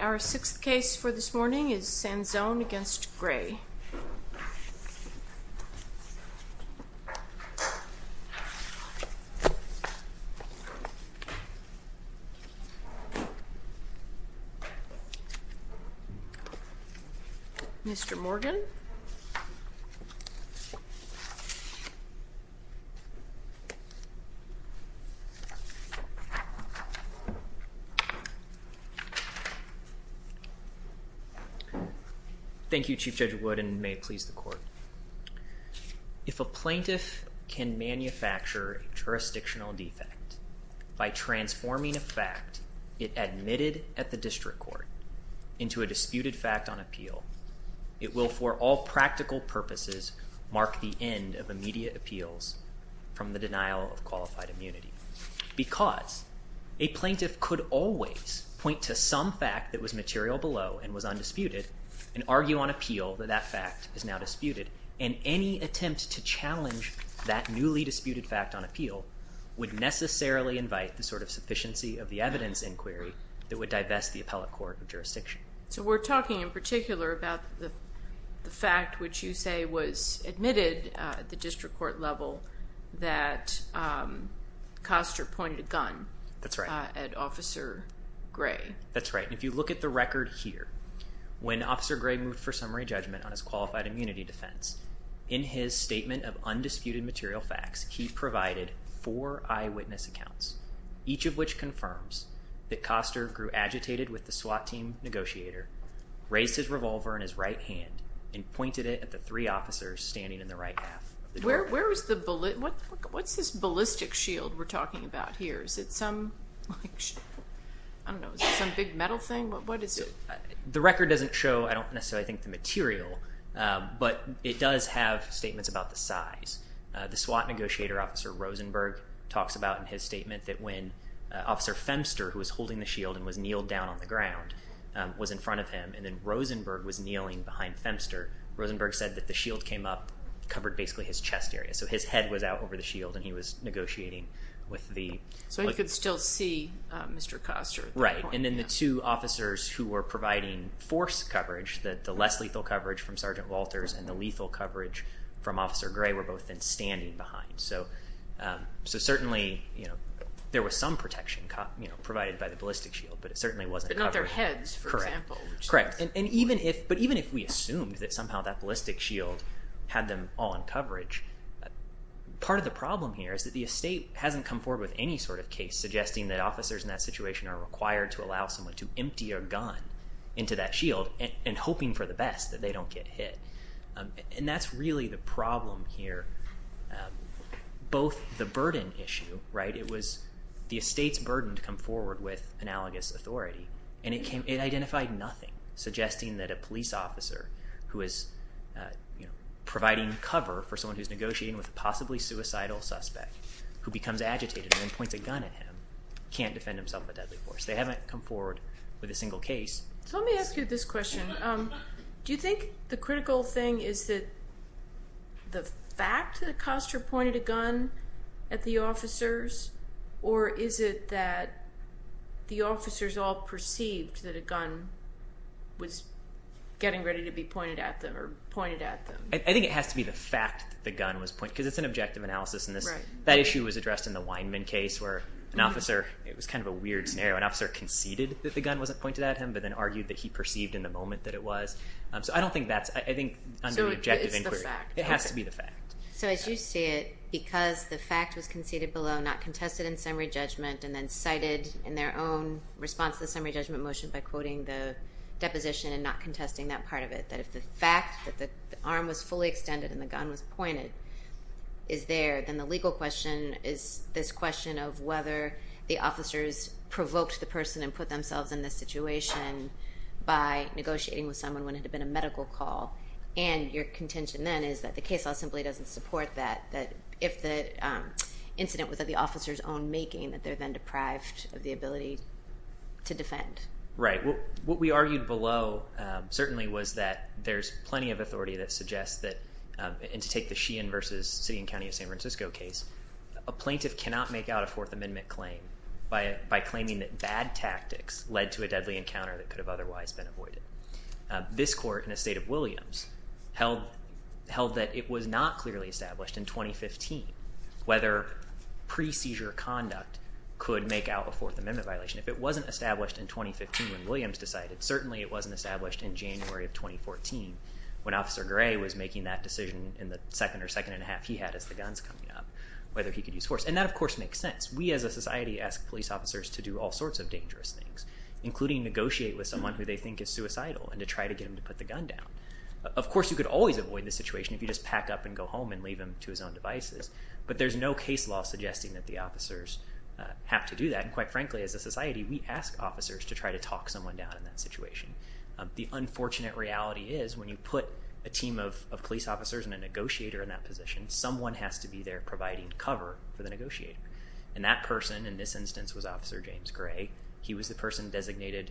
Our sixth case for this morning is Sanzone v. Gray. Sanzone v. Gray Mr. Morgan. Sanzone v. Gray Thank you, Chief Judge Wood, and may it please the Court. If a plaintiff can manufacture a jurisdictional defect by transforming a fact it admitted at the district court into a disputed fact on appeal, it will for all practical purposes mark the end of immediate appeals from the denial of qualified immunity. Because a plaintiff could always point to some fact that was material below and was undisputed and argue on appeal that that fact is now disputed, and any attempt to challenge that newly disputed fact on appeal would necessarily invite the sort of sufficiency of the evidence inquiry that would divest the Appellate Court of Jurisdiction. So we're talking in particular about the fact which you say was admitted at the district court level that Koster pointed a gun at Officer Gray. That's right. If you look at the record here, when Officer Gray moved for summary judgment on his qualified immunity defense, in his statement of undisputed material facts, he provided four eyewitness accounts, each of which confirms that Koster grew agitated with the SWAT team negotiator, raised his revolver in his right hand, and pointed it at the three officers standing in the right half of the door. What's this ballistic shield we're talking about here? Is it some big metal thing? The record doesn't show, I don't necessarily think, the material, but it does have statements about the size. The SWAT negotiator, Officer Rosenberg, talks about in his statement that when Officer Femster, who was holding the shield and was kneeled down on the ground, was in front of him, and then Rosenberg was kneeling behind Femster, Rosenberg said that the shield came up, covered basically his chest area. So his head was out over the shield and he was negotiating with the... So he could still see Mr. Koster at that point. Right. And then the two officers who were providing force coverage, the less lethal coverage from standing behind. So certainly there was some protection provided by the ballistic shield, but it certainly wasn't covering... But not their heads, for example. Correct. Correct. But even if we assumed that somehow that ballistic shield had them all in coverage, part of the problem here is that the estate hasn't come forward with any sort of case suggesting that officers in that situation are required to allow someone to empty a gun into that shield and hoping for the best that they don't get hit. And that's really the problem here, both the burden issue, right, it was the estate's burden to come forward with analogous authority, and it identified nothing suggesting that a police officer who is providing cover for someone who's negotiating with a possibly suicidal suspect, who becomes agitated and then points a gun at him, can't defend himself with deadly force. They haven't come forward with a single case. So let me ask you this question. Do you think the critical thing is that the fact that Acosta pointed a gun at the officers, or is it that the officers all perceived that a gun was getting ready to be pointed at them? I think it has to be the fact that the gun was pointed, because it's an objective analysis. That issue was addressed in the Weinman case, where an officer, it was kind of a weird scenario, an officer conceded that the gun wasn't pointed at him, but then argued that he perceived in the moment that it was. So I don't think that's, I think under the objective inquiry, it has to be the fact. So as you see it, because the fact was conceded below, not contested in summary judgment, and then cited in their own response to the summary judgment motion by quoting the deposition and not contesting that part of it, that if the fact that the arm was fully extended and the gun was pointed is there, then the legal question is this question of whether the officers provoked the person and put themselves in this situation by negotiating with someone when it had been a medical call, and your contention then is that the case law simply doesn't support that, that if the incident was at the officer's own making, that they're then deprived of the ability to defend. Right. What we argued below, certainly, was that there's plenty of authority that suggests that, and to take the Sheehan versus City and County of San Francisco case, a plaintiff cannot make out a Fourth Amendment claim by claiming that bad tactics led to a deadly encounter that could have otherwise been avoided. This court in the state of Williams held that it was not clearly established in 2015 whether pre-seizure conduct could make out a Fourth Amendment violation. If it wasn't established in 2015 when Williams decided, certainly it wasn't established in January of 2014 when Officer Gray was making that decision in the second or second and a half he had as the gun's coming up, whether he could use force. And that, of course, makes sense. We, as a society, ask police officers to do all sorts of dangerous things, including negotiate with someone who they think is suicidal and to try to get them to put the gun down. Of course, you could always avoid this situation if you just pack up and go home and leave him to his own devices, but there's no case law suggesting that the officers have to do that. And quite frankly, as a society, we ask officers to try to talk someone down in that situation. The unfortunate reality is when you put a team of police officers and a negotiator in that position, someone has to be there providing cover for the negotiator. And that person, in this instance, was Officer James Gray. He was the person designated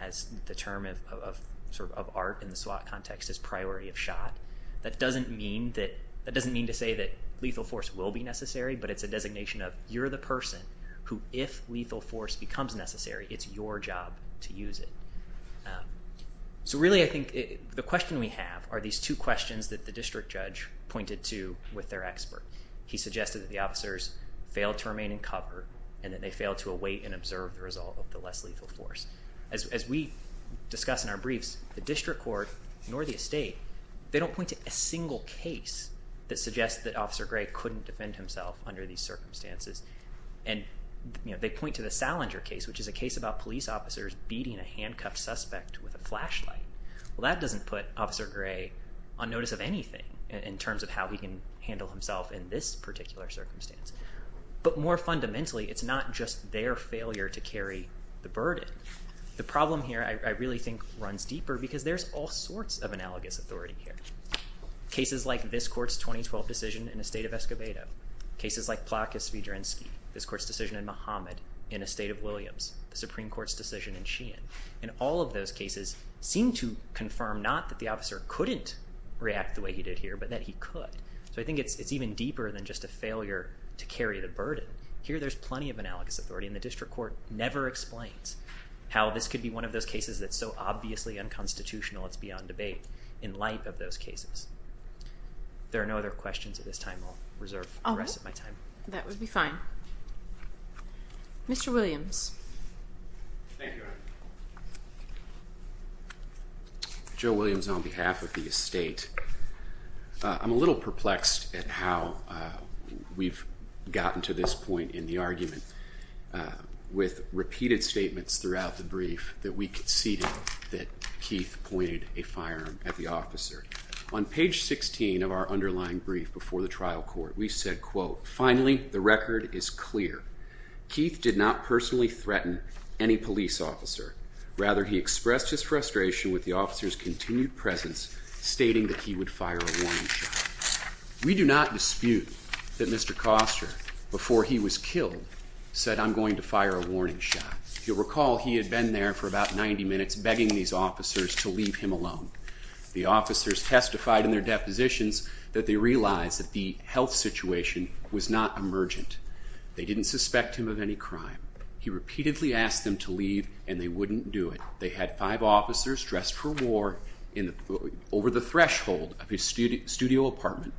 as the term of art in the SWAT context as priority of shot. That doesn't mean to say that lethal force will be necessary, but it's a designation of you're the person who, if lethal force becomes necessary, it's your job to use it. So really I think the question we have are these two questions that the district judge pointed to with their expert. He suggested that the officers failed to remain in cover and that they failed to await and observe the result of the less lethal force. As we discuss in our briefs, the district court, nor the estate, they don't point to a single case that suggests that Officer Gray couldn't defend himself under these circumstances. And they point to the Salinger case, which is a case about police officers beating a handcuffed suspect with a flashlight. That doesn't put Officer Gray on notice of anything in terms of how he can handle himself in this particular circumstance. But more fundamentally, it's not just their failure to carry the burden. The problem here, I really think, runs deeper because there's all sorts of analogous authority here. Cases like this court's 2012 decision in the state of Escobedo, cases like Plotka-Svidrinski, this court's decision in Muhammad in the state of Williams, the Supreme Court's decision in Sheehan. And all of those cases seem to confirm not that the officer couldn't react the way he did here, but that he could. So I think it's even deeper than just a failure to carry the burden. Here there's plenty of analogous authority and the district court never explains how this could be one of those cases that's so obviously unconstitutional, it's beyond debate in light of those cases. There are no other questions at this time, I'll reserve the rest of my time. That would be fine. Mr. Williams. Thank you. Joe Williams on behalf of the estate. I'm a little perplexed at how we've gotten to this point in the argument with repeated statements throughout the brief that we conceded that Keith pointed a firearm at the officer. On page 16 of our underlying brief before the trial court, we said, quote, finally the record is clear. Keith did not personally threaten any police officer, rather he expressed his frustration with the officer's continued presence stating that he would fire a warning shot. We do not dispute that Mr. Koster, before he was killed, said, I'm going to fire a warning shot. If you'll recall, he had been there for about 90 minutes begging these officers to leave him alone. The officers testified in their depositions that they realized that the health situation was not emergent. They didn't suspect him of any crime. He repeatedly asked them to leave, and they wouldn't do it. They had five officers dressed for war over the threshold of his studio apartment,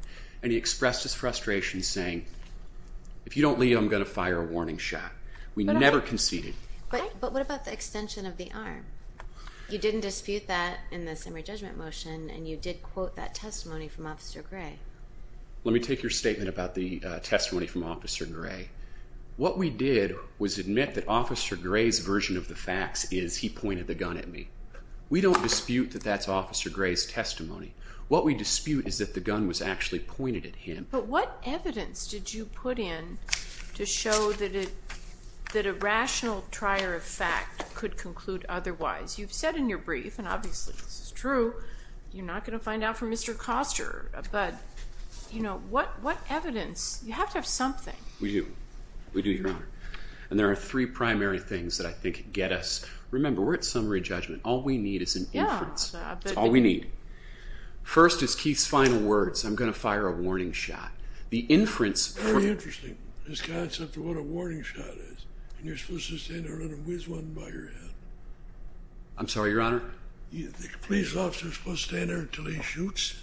and he expressed his frustration saying, if you don't leave, I'm going to fire a warning shot. We never conceded. But what about the extension of the arm? You didn't dispute that in the summary judgment motion, and you did quote that testimony from Officer Gray. Let me take your statement about the testimony from Officer Gray. What we did was admit that Officer Gray's version of the facts is he pointed the gun at me. We don't dispute that that's Officer Gray's testimony. What we dispute is that the gun was actually pointed at him. But what evidence did you put in to show that a rational trier of fact could conclude otherwise? You've said in your brief, and obviously this is true, you're not going to find out from You know, what evidence? You have to have something. We do. We do, Your Honor. And there are three primary things that I think get us. Remember, we're at summary judgment. All we need is an inference. Yeah. That's all we need. First is Keith's final words, I'm going to fire a warning shot. The inference for Very interesting. This concept of what a warning shot is. And you're supposed to stand there and whiz one by your head. I'm sorry, Your Honor? You think a police officer is supposed to stand there until he shoots?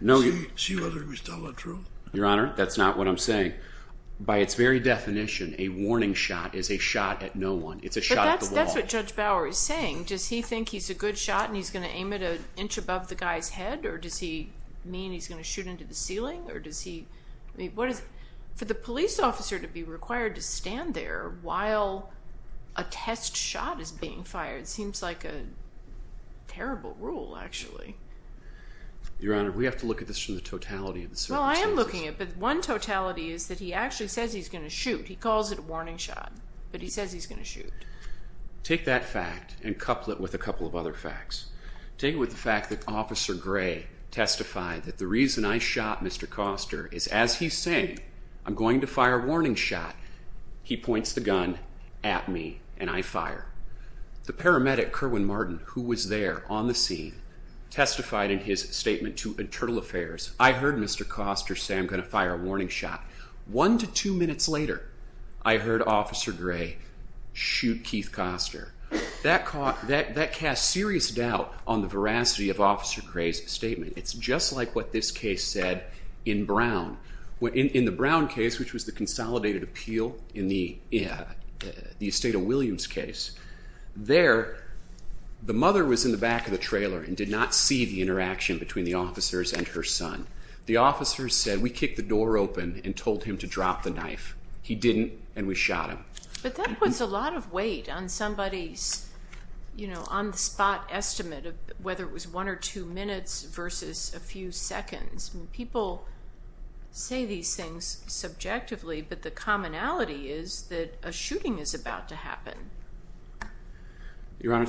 No. See whether he's telling the truth? Your Honor, that's not what I'm saying. By its very definition, a warning shot is a shot at no one. It's a shot at the wall. But that's what Judge Bauer is saying. Does he think he's a good shot and he's going to aim it an inch above the guy's head? Or does he mean he's going to shoot into the ceiling? Or does he, I mean, for the police officer to be required to stand there while a test shot is being fired seems like a terrible rule, actually. Your Honor, we have to look at this from the totality of the circumstances. Well, I am looking at it, but one totality is that he actually says he's going to shoot. He calls it a warning shot, but he says he's going to shoot. Take that fact and couple it with a couple of other facts. Take it with the fact that Officer Gray testified that the reason I shot Mr. Koster is as he's saying, I'm going to fire a warning shot. He points the gun at me and I fire. The paramedic, Kerwin Martin, who was there on the scene, testified in his statement to Internal Affairs, I heard Mr. Koster say I'm going to fire a warning shot. One to two minutes later, I heard Officer Gray shoot Keith Koster. That cast serious doubt on the veracity of Officer Gray's statement. It's just like what this case said in Brown. In the Brown case, which was the consolidated appeal in the Esteta-Williams case, there, the mother was in the back of the trailer and did not see the interaction between the officers and her son. The officers said, we kicked the door open and told him to drop the knife. He didn't, and we shot him. But that puts a lot of weight on somebody's on-the-spot estimate of whether it was one or two minutes versus a few seconds. People say these things subjectively, but the commonality is that a shooting is about to happen. Your Honor,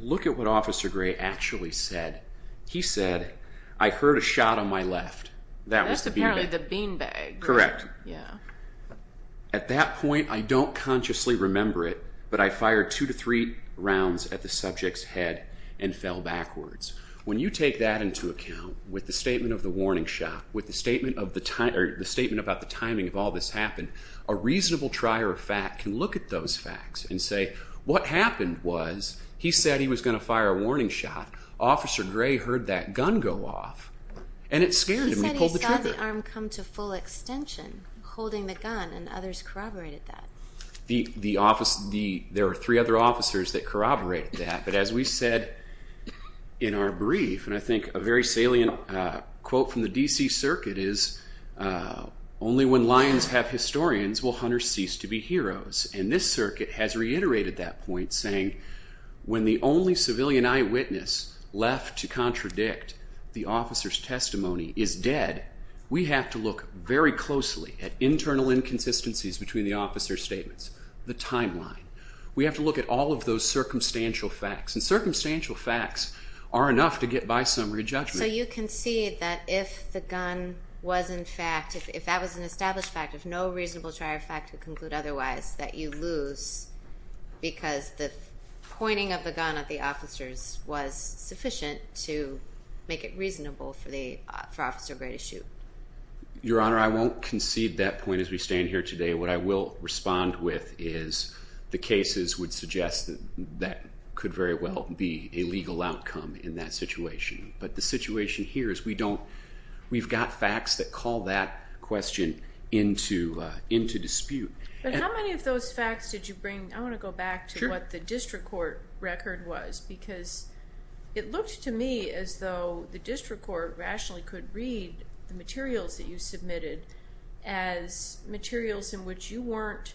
look at what Officer Gray actually said. He said, I heard a shot on my left. That was the beanbag. That's apparently the beanbag. Correct. Yeah. At that point, I don't consciously remember it, but I fired two to three rounds at the subject's head and fell backwards. When you take that into account, with the statement of the warning shot, with the statement about the timing of all this happened, a reasonable trier of fact can look at those facts and say, what happened was, he said he was going to fire a warning shot. Officer Gray heard that gun go off, and it scared him. He pulled the trigger. He said he saw the arm come to full extension, holding the gun, and others corroborated that. There are three other officers that corroborated that, but as we said in our brief, and I think a very salient quote from the D.C. Circuit is, only when lions have historians will hunters cease to be heroes. And this circuit has reiterated that point, saying, when the only civilian eyewitness left to contradict the officer's testimony is dead, we have to look very closely at internal inconsistencies between the officer's statements, the timeline. We have to look at all of those circumstantial facts, and circumstantial facts are enough to get by summary judgment. So you concede that if the gun was in fact, if that was an established fact, if no reasonable trier of fact would conclude otherwise, that you lose because the pointing of the gun at the officers was sufficient to make it reasonable for Officer Gray to shoot? Your Honor, I won't concede that point as we stand here today. What I will respond with is the cases would suggest that that could very well be a legal outcome in that situation. But the situation here is we don't, we've got facts that call that question into dispute. But how many of those facts did you bring, I want to go back to what the district court record was, because it looked to me as though the district court rationally could read the materials that you submitted as materials in which you weren't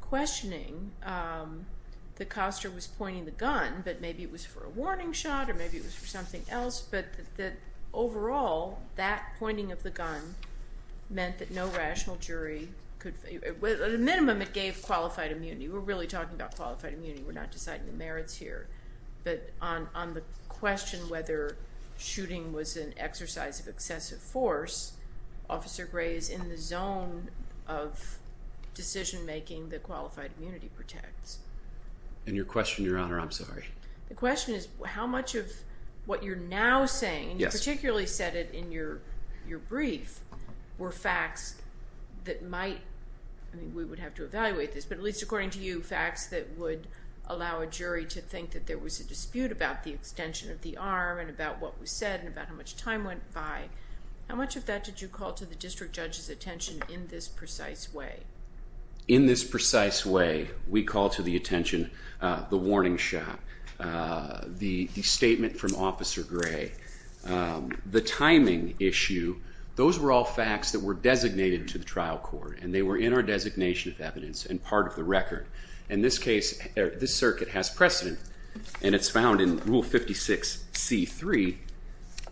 questioning that Kostner was pointing the gun, but maybe it was for a warning shot, or maybe it was for something else. But that overall, that pointing of the gun meant that no rational jury could, at a minimum it gave qualified immunity. We're really talking about qualified immunity, we're not deciding the merits here. But on the question whether shooting was an exercise of excessive force, Officer Gray is in the zone of decision making that qualified immunity protects. And your question, Your Honor, I'm sorry. The question is how much of what you're now saying, you particularly said it in your brief, were facts that might, I mean we would have to evaluate this, but at least according to you, facts that would allow a jury to think that there was a dispute about the extension of the arm, and about what was said, and about how much time went by, how much of that did you call to the district judge's attention in this precise way? In this precise way, we call to the attention the warning shot, the statement from Officer Gray, the timing issue, those were all facts that were designated to the trial court, and they were in our designation of evidence, and part of the record. In this case, this circuit has precedent, and it's found in Rule 56C3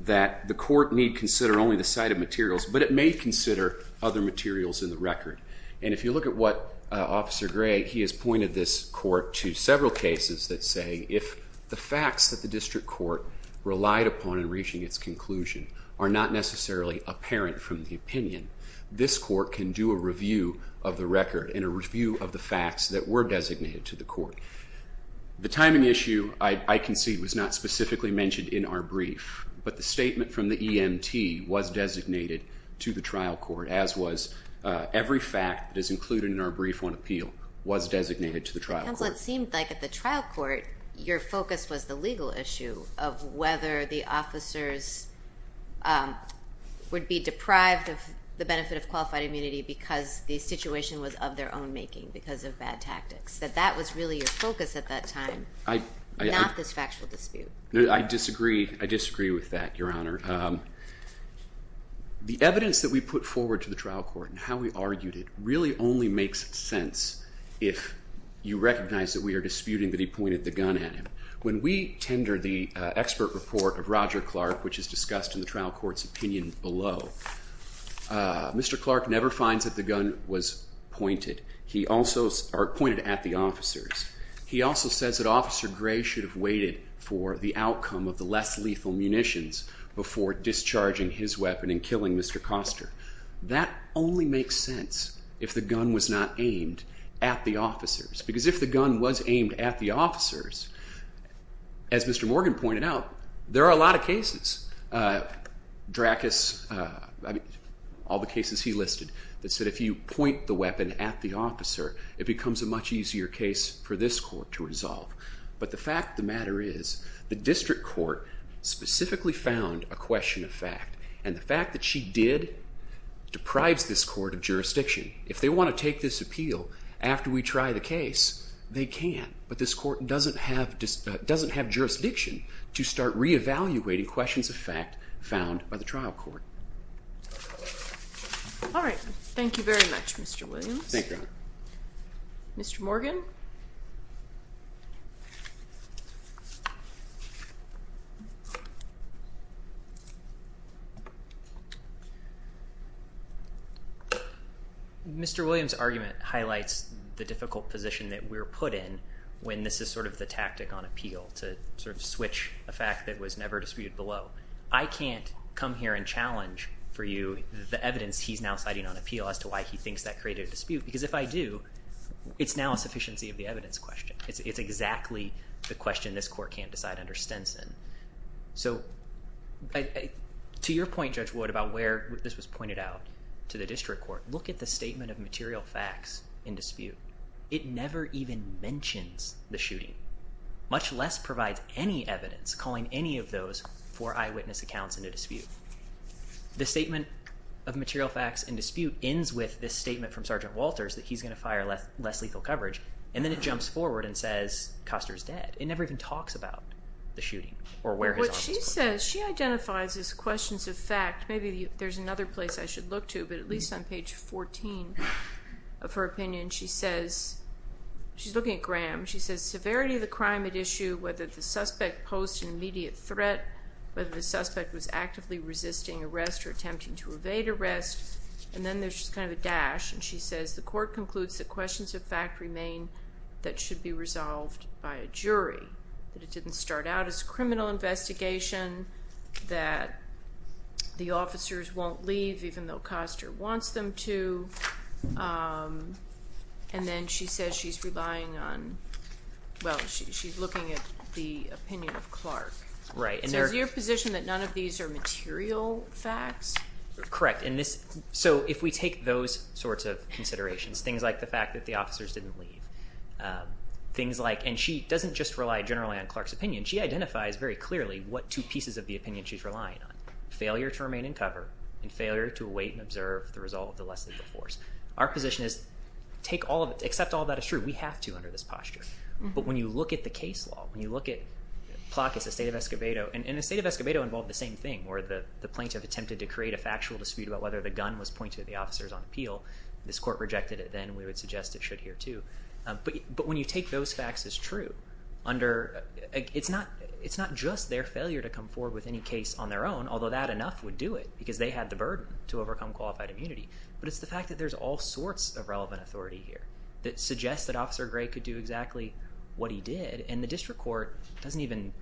that the court need consider only the cited materials, but it may consider other materials in the record. And if you look at what Officer Gray, he has pointed this court to several cases that say if the facts that the district court relied upon in reaching its conclusion are not necessarily apparent from the opinion, this court can do a review of the record, and a review of the facts that were designated to the court. The timing issue, I concede, was not specifically mentioned in our brief, but the statement from the EMT was designated to the trial court, as was every fact that is included in our report. Counsel, it seemed like at the trial court, your focus was the legal issue of whether the officers would be deprived of the benefit of qualified immunity because the situation was of their own making, because of bad tactics, that that was really your focus at that time, not this factual dispute. I disagree. I disagree with that, Your Honor. The evidence that we put forward to the trial court and how we argued it really only makes sense if you recognize that we are disputing that he pointed the gun at him. When we tender the expert report of Roger Clark, which is discussed in the trial court's opinion below, Mr. Clark never finds that the gun was pointed at the officers. He also says that Officer Gray should have waited for the outcome of the less lethal munitions before discharging his weapon and killing Mr. Koster. That only makes sense if the gun was not aimed at the officers, because if the gun was aimed at the officers, as Mr. Morgan pointed out, there are a lot of cases, Dracus, all the cases he listed, that said if you point the weapon at the officer, it becomes a much easier case for this court to resolve. But the fact of the matter is, the district court specifically found a question of fact, and the fact that she did deprives this court of jurisdiction. If they want to take this appeal after we try the case, they can. But this court doesn't have jurisdiction to start re-evaluating questions of fact found by the trial court. All right. Thank you very much, Mr. Williams. Thank you, Your Honor. Mr. Morgan? Mr. Williams' argument highlights the difficult position that we're put in when this is sort of the tactic on appeal, to sort of switch a fact that was never disputed below. I can't come here and challenge for you the evidence he's now citing on appeal as to why he thinks that created a dispute, because if I do, it's now a sufficiency of the evidence question. It's exactly the question this court can't decide under Stinson. So to your point, Judge Wood, about where this was pointed out to the district court, look at the statement of material facts in dispute. It never even mentions the shooting, much less provides any evidence calling any of those for eyewitness accounts in a dispute. The statement of material facts in dispute ends with this statement from Sergeant Walters that he's going to fire less lethal coverage, and then it jumps forward and says Custer's dead. It never even talks about the shooting or where his office was. What she says, she identifies as questions of fact. Maybe there's another place I should look to, but at least on page 14 of her opinion, she says, she's looking at Graham. She says severity of the crime at issue, whether the suspect posed an immediate threat, whether the suspect was actively resisting arrest or attempting to evade arrest. And then there's just kind of a dash, and she says the court concludes that questions of fact remain that should be resolved by a jury, that it didn't start out as a criminal investigation, that the officers won't leave even though Custer wants them to. And then she says she's relying on, well, she's looking at the opinion of Clark. Right. So is your position that none of these are material facts? Correct. And this, so if we take those sorts of considerations, things like the fact that the officers didn't leave, things like, and she doesn't just rely generally on Clark's opinion. She identifies very clearly what two pieces of the opinion she's relying on, failure to remain in cover and failure to await and observe the result of the less lethal force. Our position is take all of it, accept all that is true. We have to under this posture. But when you look at the case law, when you look at Plakas, the state of Escobedo, and the state of Escobedo involved the same thing, where the plaintiff attempted to create a factual dispute about whether the gun was pointed at the officers on appeal. This court rejected it then, we would suggest it should here too. But when you take those facts as true, under, it's not just their failure to come forward with any case on their own, although that enough would do it, because they had the burden to overcome qualified immunity, but it's the fact that there's all sorts of relevant authority here that suggests that Officer Gray could do exactly what he did, and the district court doesn't even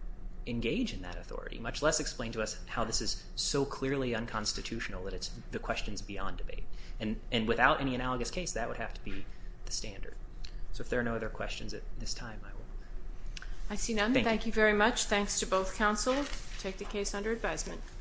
engage in that authority, much less explain to us how this is so clearly unconstitutional that it's the questions beyond debate. And without any analogous case, that would have to be the standard. So if there are no other questions at this time, I will. I see none. Thank you very much. Thanks to both counsel. Take the case under advisement.